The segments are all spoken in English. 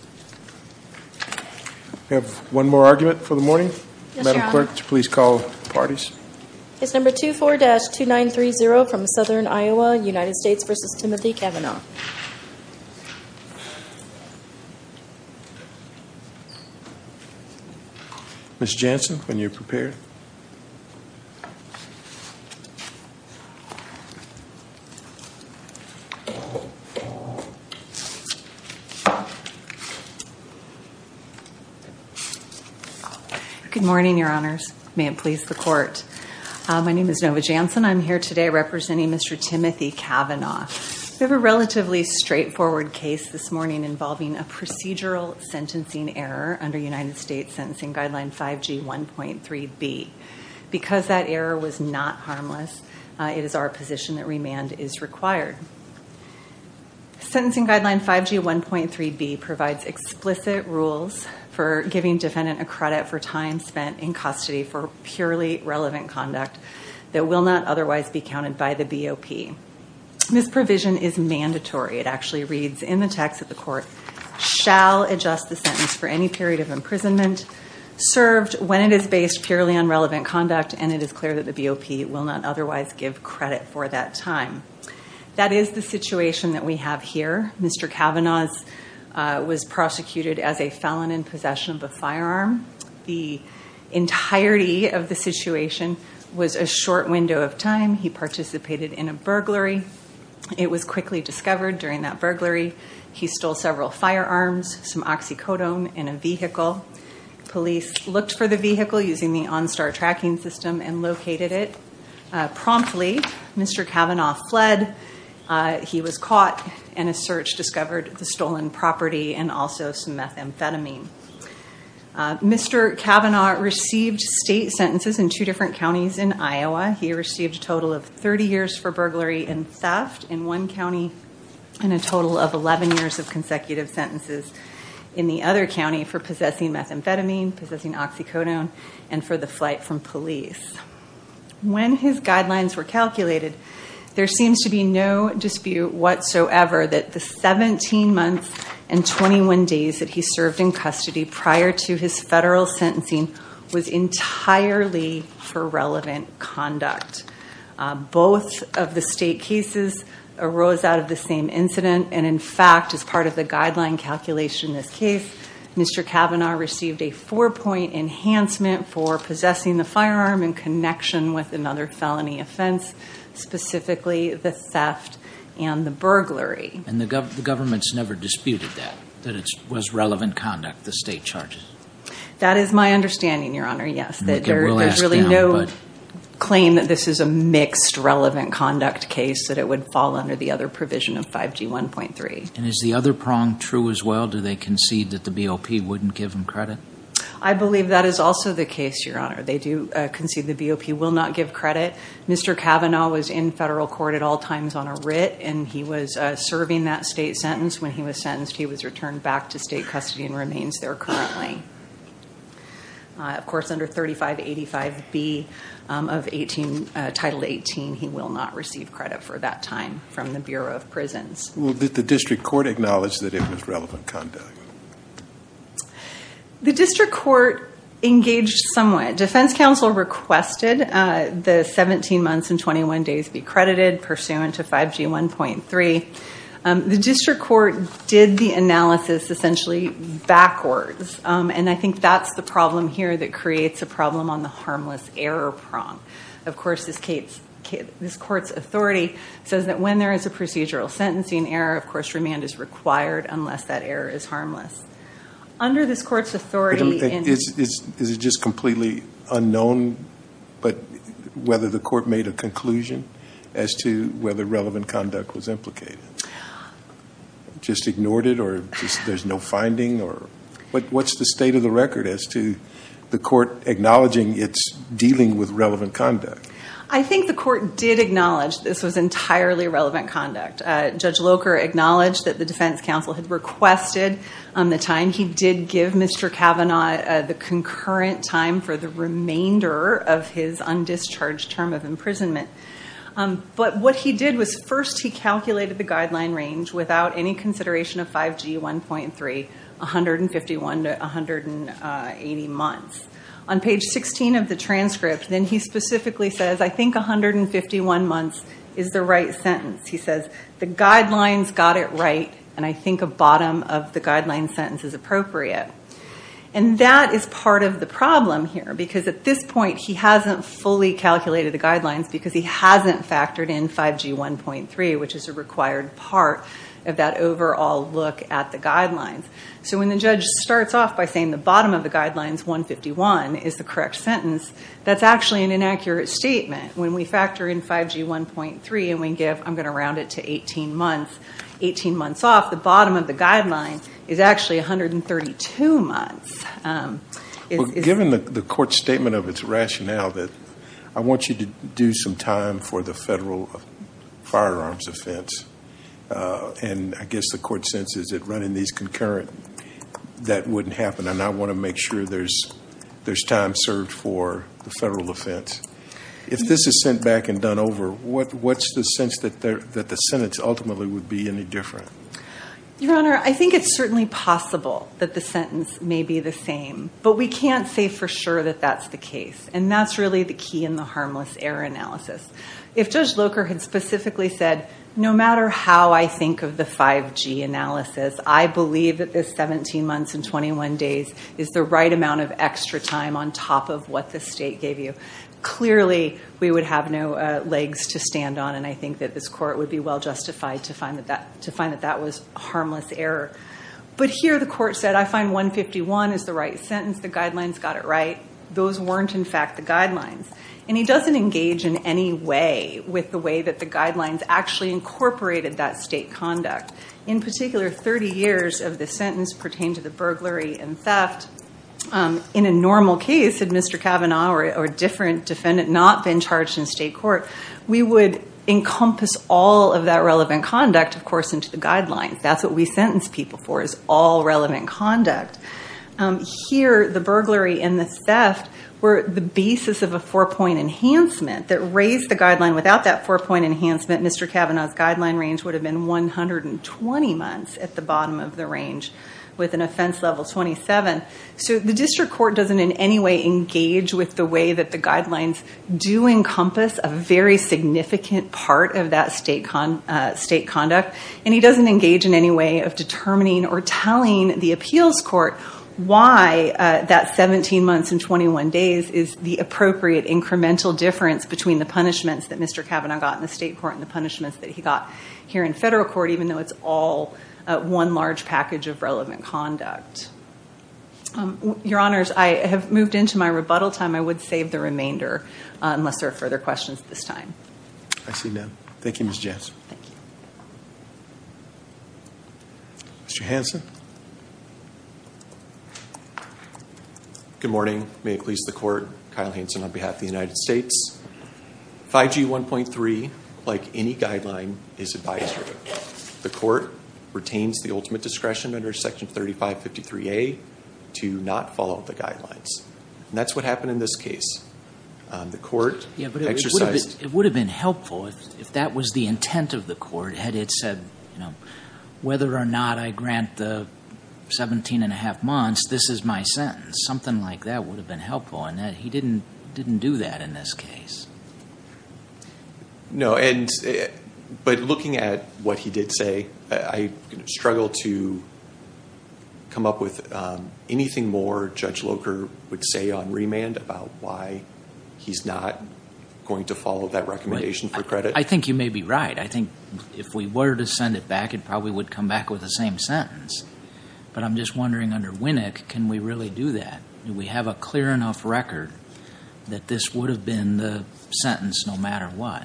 We have one more argument for the morning. Madam Clerk, would you please call the parties? It's number 24-2930 from Southern Iowa, United States v. Timothy Kavanagh. Ms. Jansen, when you're prepared. Good morning, Your Honors. May it please the Court. My name is Nova Jansen. I'm here today representing Mr. Timothy Kavanagh. We have a relatively straightforward case this morning involving a procedural sentencing error under United States Sentencing Guideline 5G 1.3b. Because that error was not harmless, it is our position that remand is required. Sentencing Guideline 5G 1.3b provides explicit rules for giving defendant a credit for time spent in custody for purely relevant conduct that will not otherwise be counted by the BOP. Misprovision is mandatory. It actually reads in the text that the court shall adjust the sentence for any period of imprisonment served when it is based purely on relevant conduct and it is clear that the BOP will not otherwise give credit for that time. That is the situation that we have here. Mr. Kavanagh was prosecuted as a felon in possession of a firearm. The entirety of the situation was a short window of time. He participated in a burglary. It was quickly discovered during that burglary he stole several firearms, some oxycodone in a vehicle. Police looked for the vehicle using the OnStar tracking system and located it. Promptly, Mr. Kavanagh fled. He was caught and a search discovered the stolen property and also some methamphetamine. Mr. Kavanagh received state sentences in two different counties in Iowa. He received a total of 30 years for burglary and theft in one county and a total of 11 years of consecutive sentences in the other county for possessing methamphetamine, possessing oxycodone, and for the flight from police. When his guidelines were calculated, there seems to be no dispute whatsoever that the 17 months and 21 days that he served in custody prior to his federal sentencing was entirely for relevant conduct. Both of the state cases arose out of the same incident, and in fact, as part of the guideline calculation in this case, Mr. Kavanagh received a four-point enhancement for possessing the firearm in connection with another felony offense, specifically the theft and the burglary. And the government's never disputed that, that it was relevant conduct, the state charges? That is my understanding, Your Honor, yes. There's really no claim that this is a mixed relevant conduct case, that it would fall under the other provision of 5G1.3. And is the other prong true as well? Do they concede that the BOP wouldn't give him credit? I believe that is also the case, Your Honor. They do concede the BOP will not give credit. Mr. Kavanagh was in federal court at all times on a writ, and he was serving that state sentence. When he was sentenced, he was returned back to state custody and remains there currently. Of course, under 3585B of Title 18, he will not receive credit for that time from the Bureau of Prisons. Well, did the district court acknowledge that it was relevant conduct? The district court engaged somewhat. Defense counsel requested the 17 months and 21 days be credited pursuant to 5G1.3. The district court did the analysis essentially backwards. And I think that's the problem here that creates a problem on the harmless error prong. Of course, this court's authority says that when there is a procedural sentencing error, of course, remand is required unless that error is harmless. Is it just completely unknown whether the court made a conclusion as to whether relevant conduct was implicated? Just ignored it or there's no finding? What's the state of the record as to the court acknowledging it's dealing with relevant conduct? I think the court did acknowledge this was entirely relevant conduct. Judge Locher acknowledged that the defense counsel had requested the time. He did give Mr. Kavanaugh the concurrent time for the remainder of his undischarged term of imprisonment. But what he did was first he calculated the guideline range without any consideration of 5G1.3, 151 to 180 months. On page 16 of the transcript, then he specifically says, I think 151 months is the right sentence. He says the guidelines got it right and I think a bottom of the guideline sentence is appropriate. And that is part of the problem here because at this point he hasn't fully calculated the guidelines because he hasn't factored in 5G1.3, which is a required part of that overall look at the guidelines. So when the judge starts off by saying the bottom of the guidelines, 151, is the correct sentence, that's actually an inaccurate statement. When we factor in 5G1.3 and we give, I'm going to round it to 18 months, 18 months off, the bottom of the guidelines is actually 132 months. Given the court's statement of its rationale that I want you to do some time for the federal firearms offense, and I guess the court senses that running these concurrent, that wouldn't happen, and I want to make sure there's time served for the federal offense. If this is sent back and done over, what's the sense that the sentence ultimately would be any different? Your Honor, I think it's certainly possible that the sentence may be the same, but we can't say for sure that that's the case, and that's really the key in the harmless error analysis. If Judge Locher had specifically said, no matter how I think of the 5G analysis, I believe that this 17 months and 21 days is the right amount of extra time on top of what the state gave you, clearly we would have no legs to stand on, and I think that this court would be well justified to find that that was harmless error. But here the court said, I find 151 is the right sentence, the guidelines got it right. Those weren't in fact the guidelines, and he doesn't engage in any way with the way that the guidelines actually incorporated that state conduct. In particular, 30 years of the sentence pertained to the burglary and theft. In a normal case, had Mr. Kavanaugh or a different defendant not been charged in state court, we would encompass all of that relevant conduct, of course, into the guidelines. That's what we sentence people for, is all relevant conduct. Here, the burglary and the theft were the basis of a four-point enhancement. That raised the guideline without that four-point enhancement, Mr. Kavanaugh's guideline range would have been 120 months at the bottom of the range with an offense level 27. The district court doesn't in any way engage with the way that the guidelines do encompass a very significant part of that state conduct, and he doesn't engage in any way of determining or telling the appeals court why that 17 months and 21 days is the appropriate incremental difference between the punishments that Mr. Kavanaugh got in the state court and the punishments that he got here in federal court, even though it's all one large package of relevant conduct. Your Honors, I have moved into my rebuttal time. I would save the remainder unless there are further questions at this time. I see none. Thank you, Ms. Jansen. Thank you. Mr. Hanson. Good morning. May it please the court. Kyle Hanson on behalf of the United States. 5G 1.3, like any guideline, is advisory. The court retains the ultimate discretion under Section 3553A to not follow the guidelines, and that's what happened in this case. The court exercised It would have been helpful if that was the intent of the court, had it said, you know, whether or not I grant the 17 1⁄2 months, this is my sentence. Something like that would have been helpful, and he didn't do that in this case. No, but looking at what he did say, I struggle to come up with anything more Judge Locher would say on remand about why he's not going to follow that recommendation for credit. I think you may be right. I think if we were to send it back, it probably would come back with the same sentence. But I'm just wondering, under Winnick, can we really do that? Do we have a clear enough record that this would have been the sentence no matter what?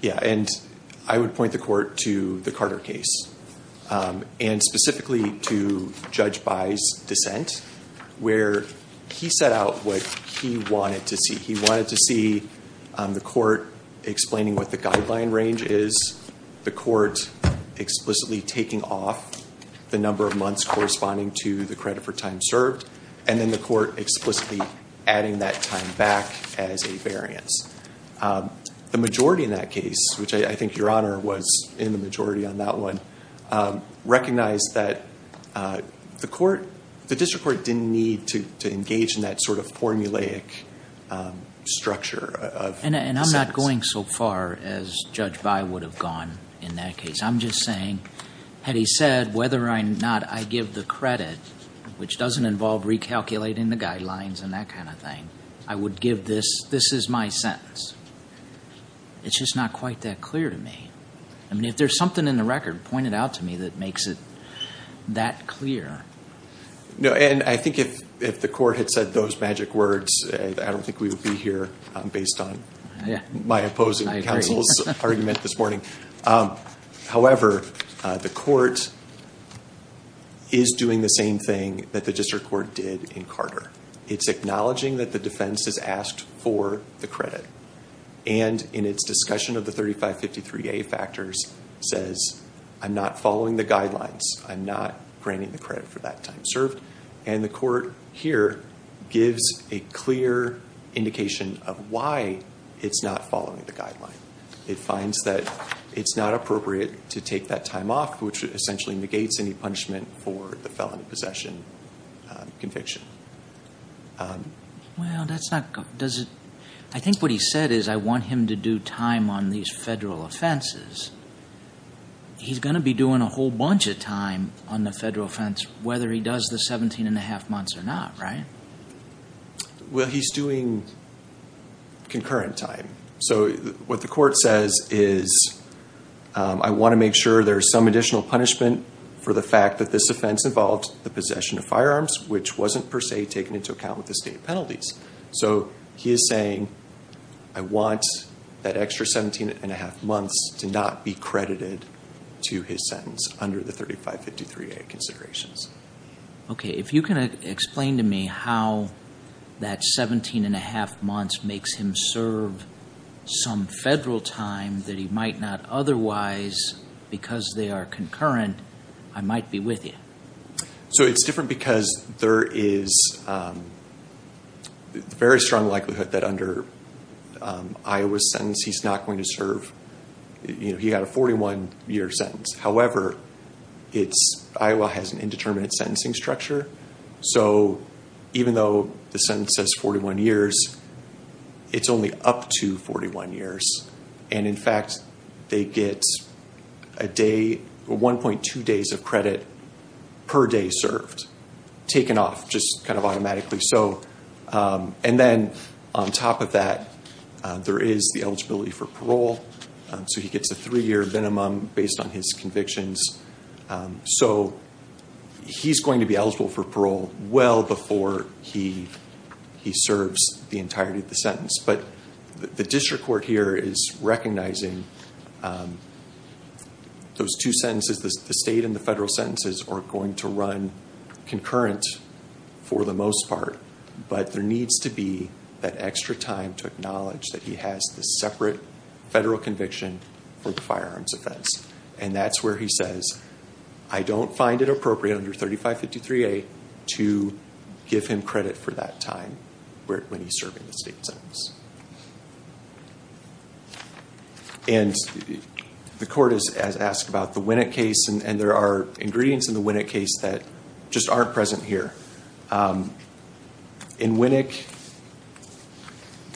Yeah, and I would point the court to the Carter case, and specifically to Judge By's dissent, where he set out what he wanted to see. He wanted to see the court explaining what the guideline range is, the court explicitly taking off the number of months corresponding to the credit for time served, and then the court explicitly adding that time back as a variance. The majority in that case, which I think Your Honor was in the majority on that one, recognized that the district court didn't need to engage in that sort of formulaic structure of the sentence. And I'm not going so far as Judge By would have gone in that case. I'm just saying, had he said whether or not I give the credit, which doesn't involve recalculating the guidelines and that kind of thing, I would give this, this is my sentence. It's just not quite that clear to me. I mean, if there's something in the record pointed out to me that makes it that clear. No, and I think if the court had said those magic words, I don't think we would be here based on my opposing counsel's argument this morning. However, the court is doing the same thing that the district court did in Carter. It's acknowledging that the defense has asked for the credit. And in its discussion of the 3553A factors says, I'm not following the guidelines. I'm not granting the credit for that time served. And the court here gives a clear indication of why it's not following the guideline. It finds that it's not appropriate to take that time off, which essentially negates any punishment for the felony possession conviction. Well, that's not good. I think what he said is I want him to do time on these federal offenses. He's going to be doing a whole bunch of time on the federal offense, whether he does the 17 and a half months or not, right? Well, he's doing concurrent time. So what the court says is, I want to make sure there's some additional punishment for the fact that this offense involved the possession of firearms, which wasn't per se taken into account with the state penalties. So he is saying, I want that extra 17 and a half months to not be credited to his sentence under the 3553A considerations. Okay, if you can explain to me how that 17 and a half months makes him serve some federal time that he might not otherwise, because they are concurrent, I might be with you. So it's different because there is a very strong likelihood that under Iowa's sentence, he's not going to serve. He got a 41 year sentence. However, Iowa has an indeterminate sentencing structure. So even though the sentence says 41 years, it's only up to 41 years. And in fact, they get a day, 1.2 days of credit per day served, taken off just kind of automatically. So and then on top of that, there is the eligibility for parole. So he gets a three year minimum based on his convictions. So he's going to be eligible for parole well before he he serves the entirety of the sentence. But the district court here is recognizing those two sentences, the state and the federal sentences, are going to run concurrent for the most part. But there needs to be that extra time to acknowledge that he has the separate federal conviction for the firearms offense. And that's where he says, I don't find it appropriate under 3553A to give him credit for that time when he's serving the state sentence. And the court has asked about the Winnick case, and there are ingredients in the Winnick case that just aren't present here. In Winnick,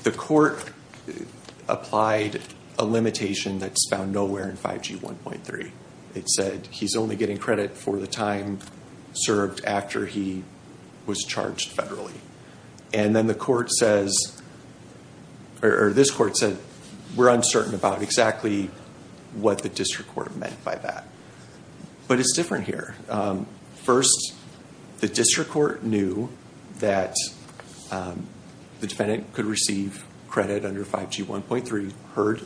the court applied a limitation that's found nowhere in 5G 1.3. It said he's only getting credit for the time served after he was charged federally. And then the court says, or this court said, we're uncertain about exactly what the district court meant by that. But it's different here. First, the district court knew that the defendant could receive credit under 5G 1.3, heard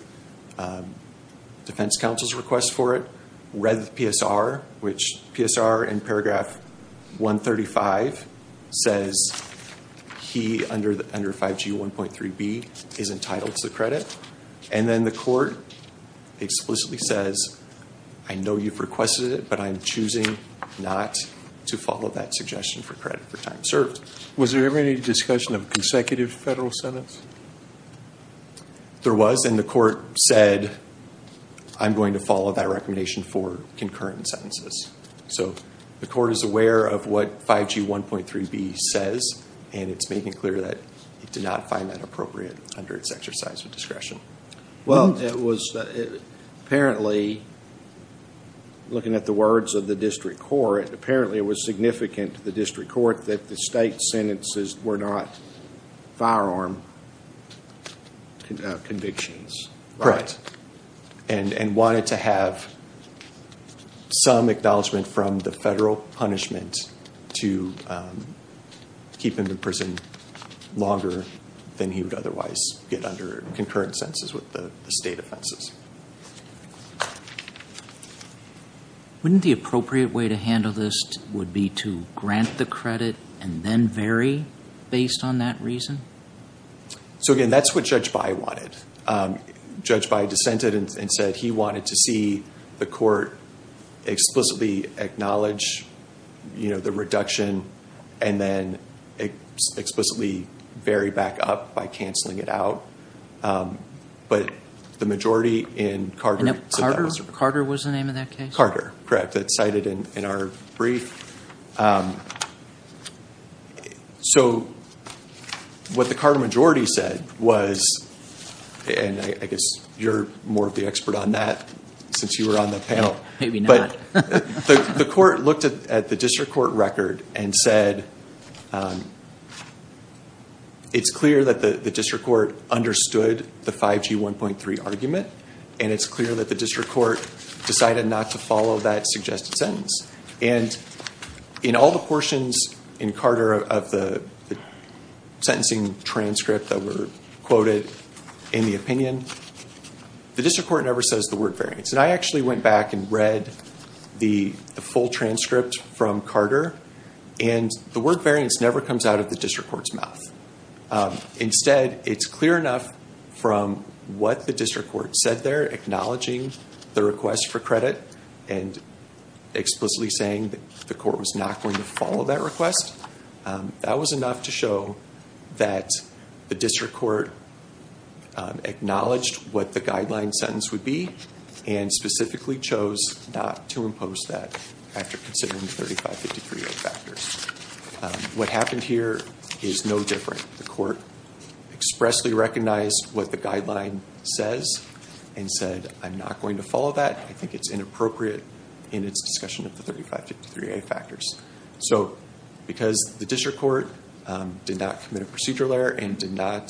defense counsel's request for it, read the PSR, which PSR in paragraph 135 says he under 5G 1.3b is entitled to credit. And then the court explicitly says, I know you've requested it, but I'm choosing not to follow that suggestion for credit for time served. Was there ever any discussion of consecutive federal sentence? There was, and the court said, I'm going to follow that recommendation for concurrent sentences. The court is aware of what 5G 1.3b says, and it's making clear that it did not find that appropriate under its exercise of discretion. Well, it was apparently, looking at the words of the district court, apparently it was significant to the district court that the state sentences were not firearm convictions. Correct. And wanted to have some acknowledgment from the federal punishment to keep him in prison longer than he would otherwise get under concurrent sentences with the state offenses. Wouldn't the appropriate way to handle this would be to grant the credit and then vary based on that reason? So, again, that's what Judge Bayh wanted. Judge Bayh dissented and said he wanted to see the court explicitly acknowledge the reduction and then explicitly vary back up by canceling it out. But the majority in Carter. Carter was the name of that case? Carter, correct, that's cited in our brief. So what the Carter majority said was, and I guess you're more of the expert on that since you were on the panel. Maybe not. The court looked at the district court record and said, it's clear that the district court understood the 5G 1.3 argument, and it's clear that the district court decided not to follow that suggested sentence. And in all the portions in Carter of the sentencing transcript that were quoted in the opinion, the district court never says the word variance. And I actually went back and read the full transcript from Carter, and the word variance never comes out of the district court's mouth. Instead, it's clear enough from what the district court said there, acknowledging the request for credit, and explicitly saying that the court was not going to follow that request. That was enough to show that the district court acknowledged what the guideline sentence would be, and specifically chose not to impose that after considering the 3553 factors. What happened here is no different. The court expressly recognized what the guideline says and said, I'm not going to follow that. I think it's inappropriate in its discussion of the 3553A factors. So because the district court did not commit a procedural error and did not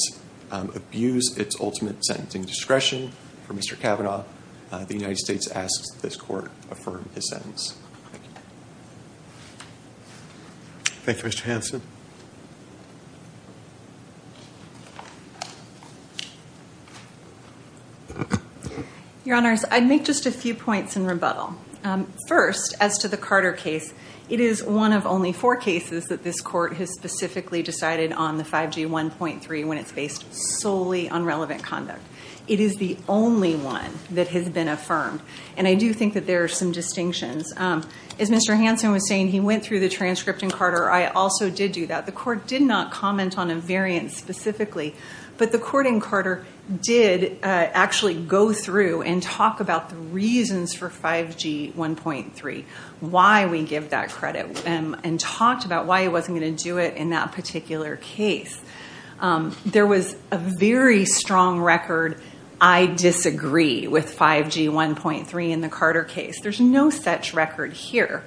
abuse its ultimate sentencing discretion for Mr. Kavanaugh, the United States asks that this court affirm his sentence. Thank you, Mr. Hanson. Your Honors, I'd make just a few points in rebuttal. First, as to the Carter case, it is one of only four cases that this court has specifically decided on the 5G1.3 when it's based solely on relevant conduct. It is the only one that has been affirmed, and I do think that there are some distinctions. As Mr. Hanson was saying, he went through the transcript in Carter. I also did do that. The court did not comment on a variance specifically, but the court in Carter did actually go through and talk about the reasons for 5G1.3, why we give that credit, and talked about why it wasn't going to do it in that particular case. There was a very strong record, I disagree with 5G1.3 in the Carter case. There's no such record here.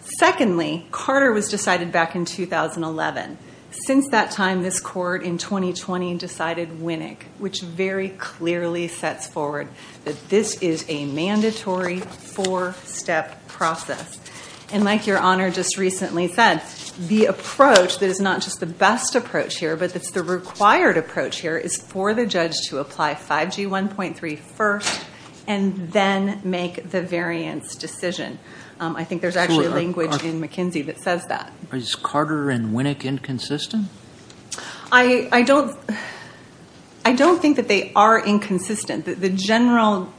Secondly, Carter was decided back in 2011. Since that time, this court in 2020 decided Winnick, which very clearly sets forward that this is a mandatory four-step process. And like Your Honor just recently said, the approach that is not just the best approach here, but that's the required approach here, is for the judge to apply 5G1.3 first, and then make the variance decision. I think there's actually language in McKinsey that says that. Is Carter and Winnick inconsistent? I don't think that they are inconsistent. The general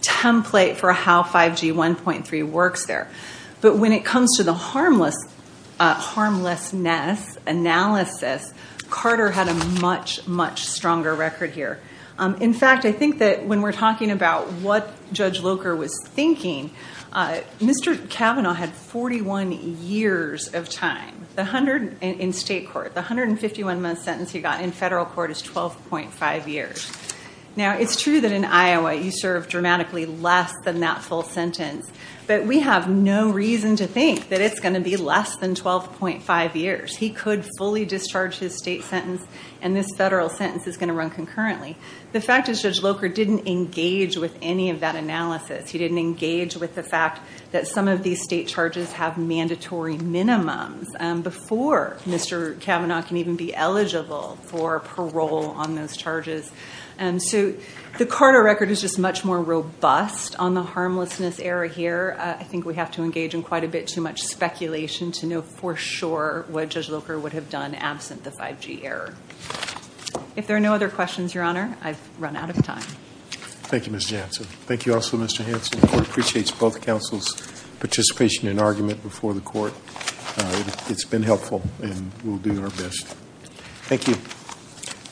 template for how 5G1.3 works there. But when it comes to the harmlessness analysis, Carter had a much, much stronger record here. In fact, I think that when we're talking about what Judge Locher was thinking, Mr. Kavanaugh had 41 years of time in state court. The 151-month sentence he got in federal court is 12.5 years. Now, it's true that in Iowa you serve dramatically less than that full sentence, but we have no reason to think that it's going to be less than 12.5 years. He could fully discharge his state sentence, and this federal sentence is going to run concurrently. The fact is Judge Locher didn't engage with any of that analysis. He didn't engage with the fact that some of these state charges have mandatory minimums before Mr. Kavanaugh can even be eligible for parole on those charges. So the Carter record is just much more robust on the harmlessness error here. I think we have to engage in quite a bit too much speculation to know for sure what Judge Locher would have done absent the 5G error. If there are no other questions, Your Honor, I've run out of time. Thank you, Ms. Jansen. Thank you also, Mr. Hanson. The court appreciates both counsel's participation and argument before the court. It's been helpful, and we'll do our best. Thank you.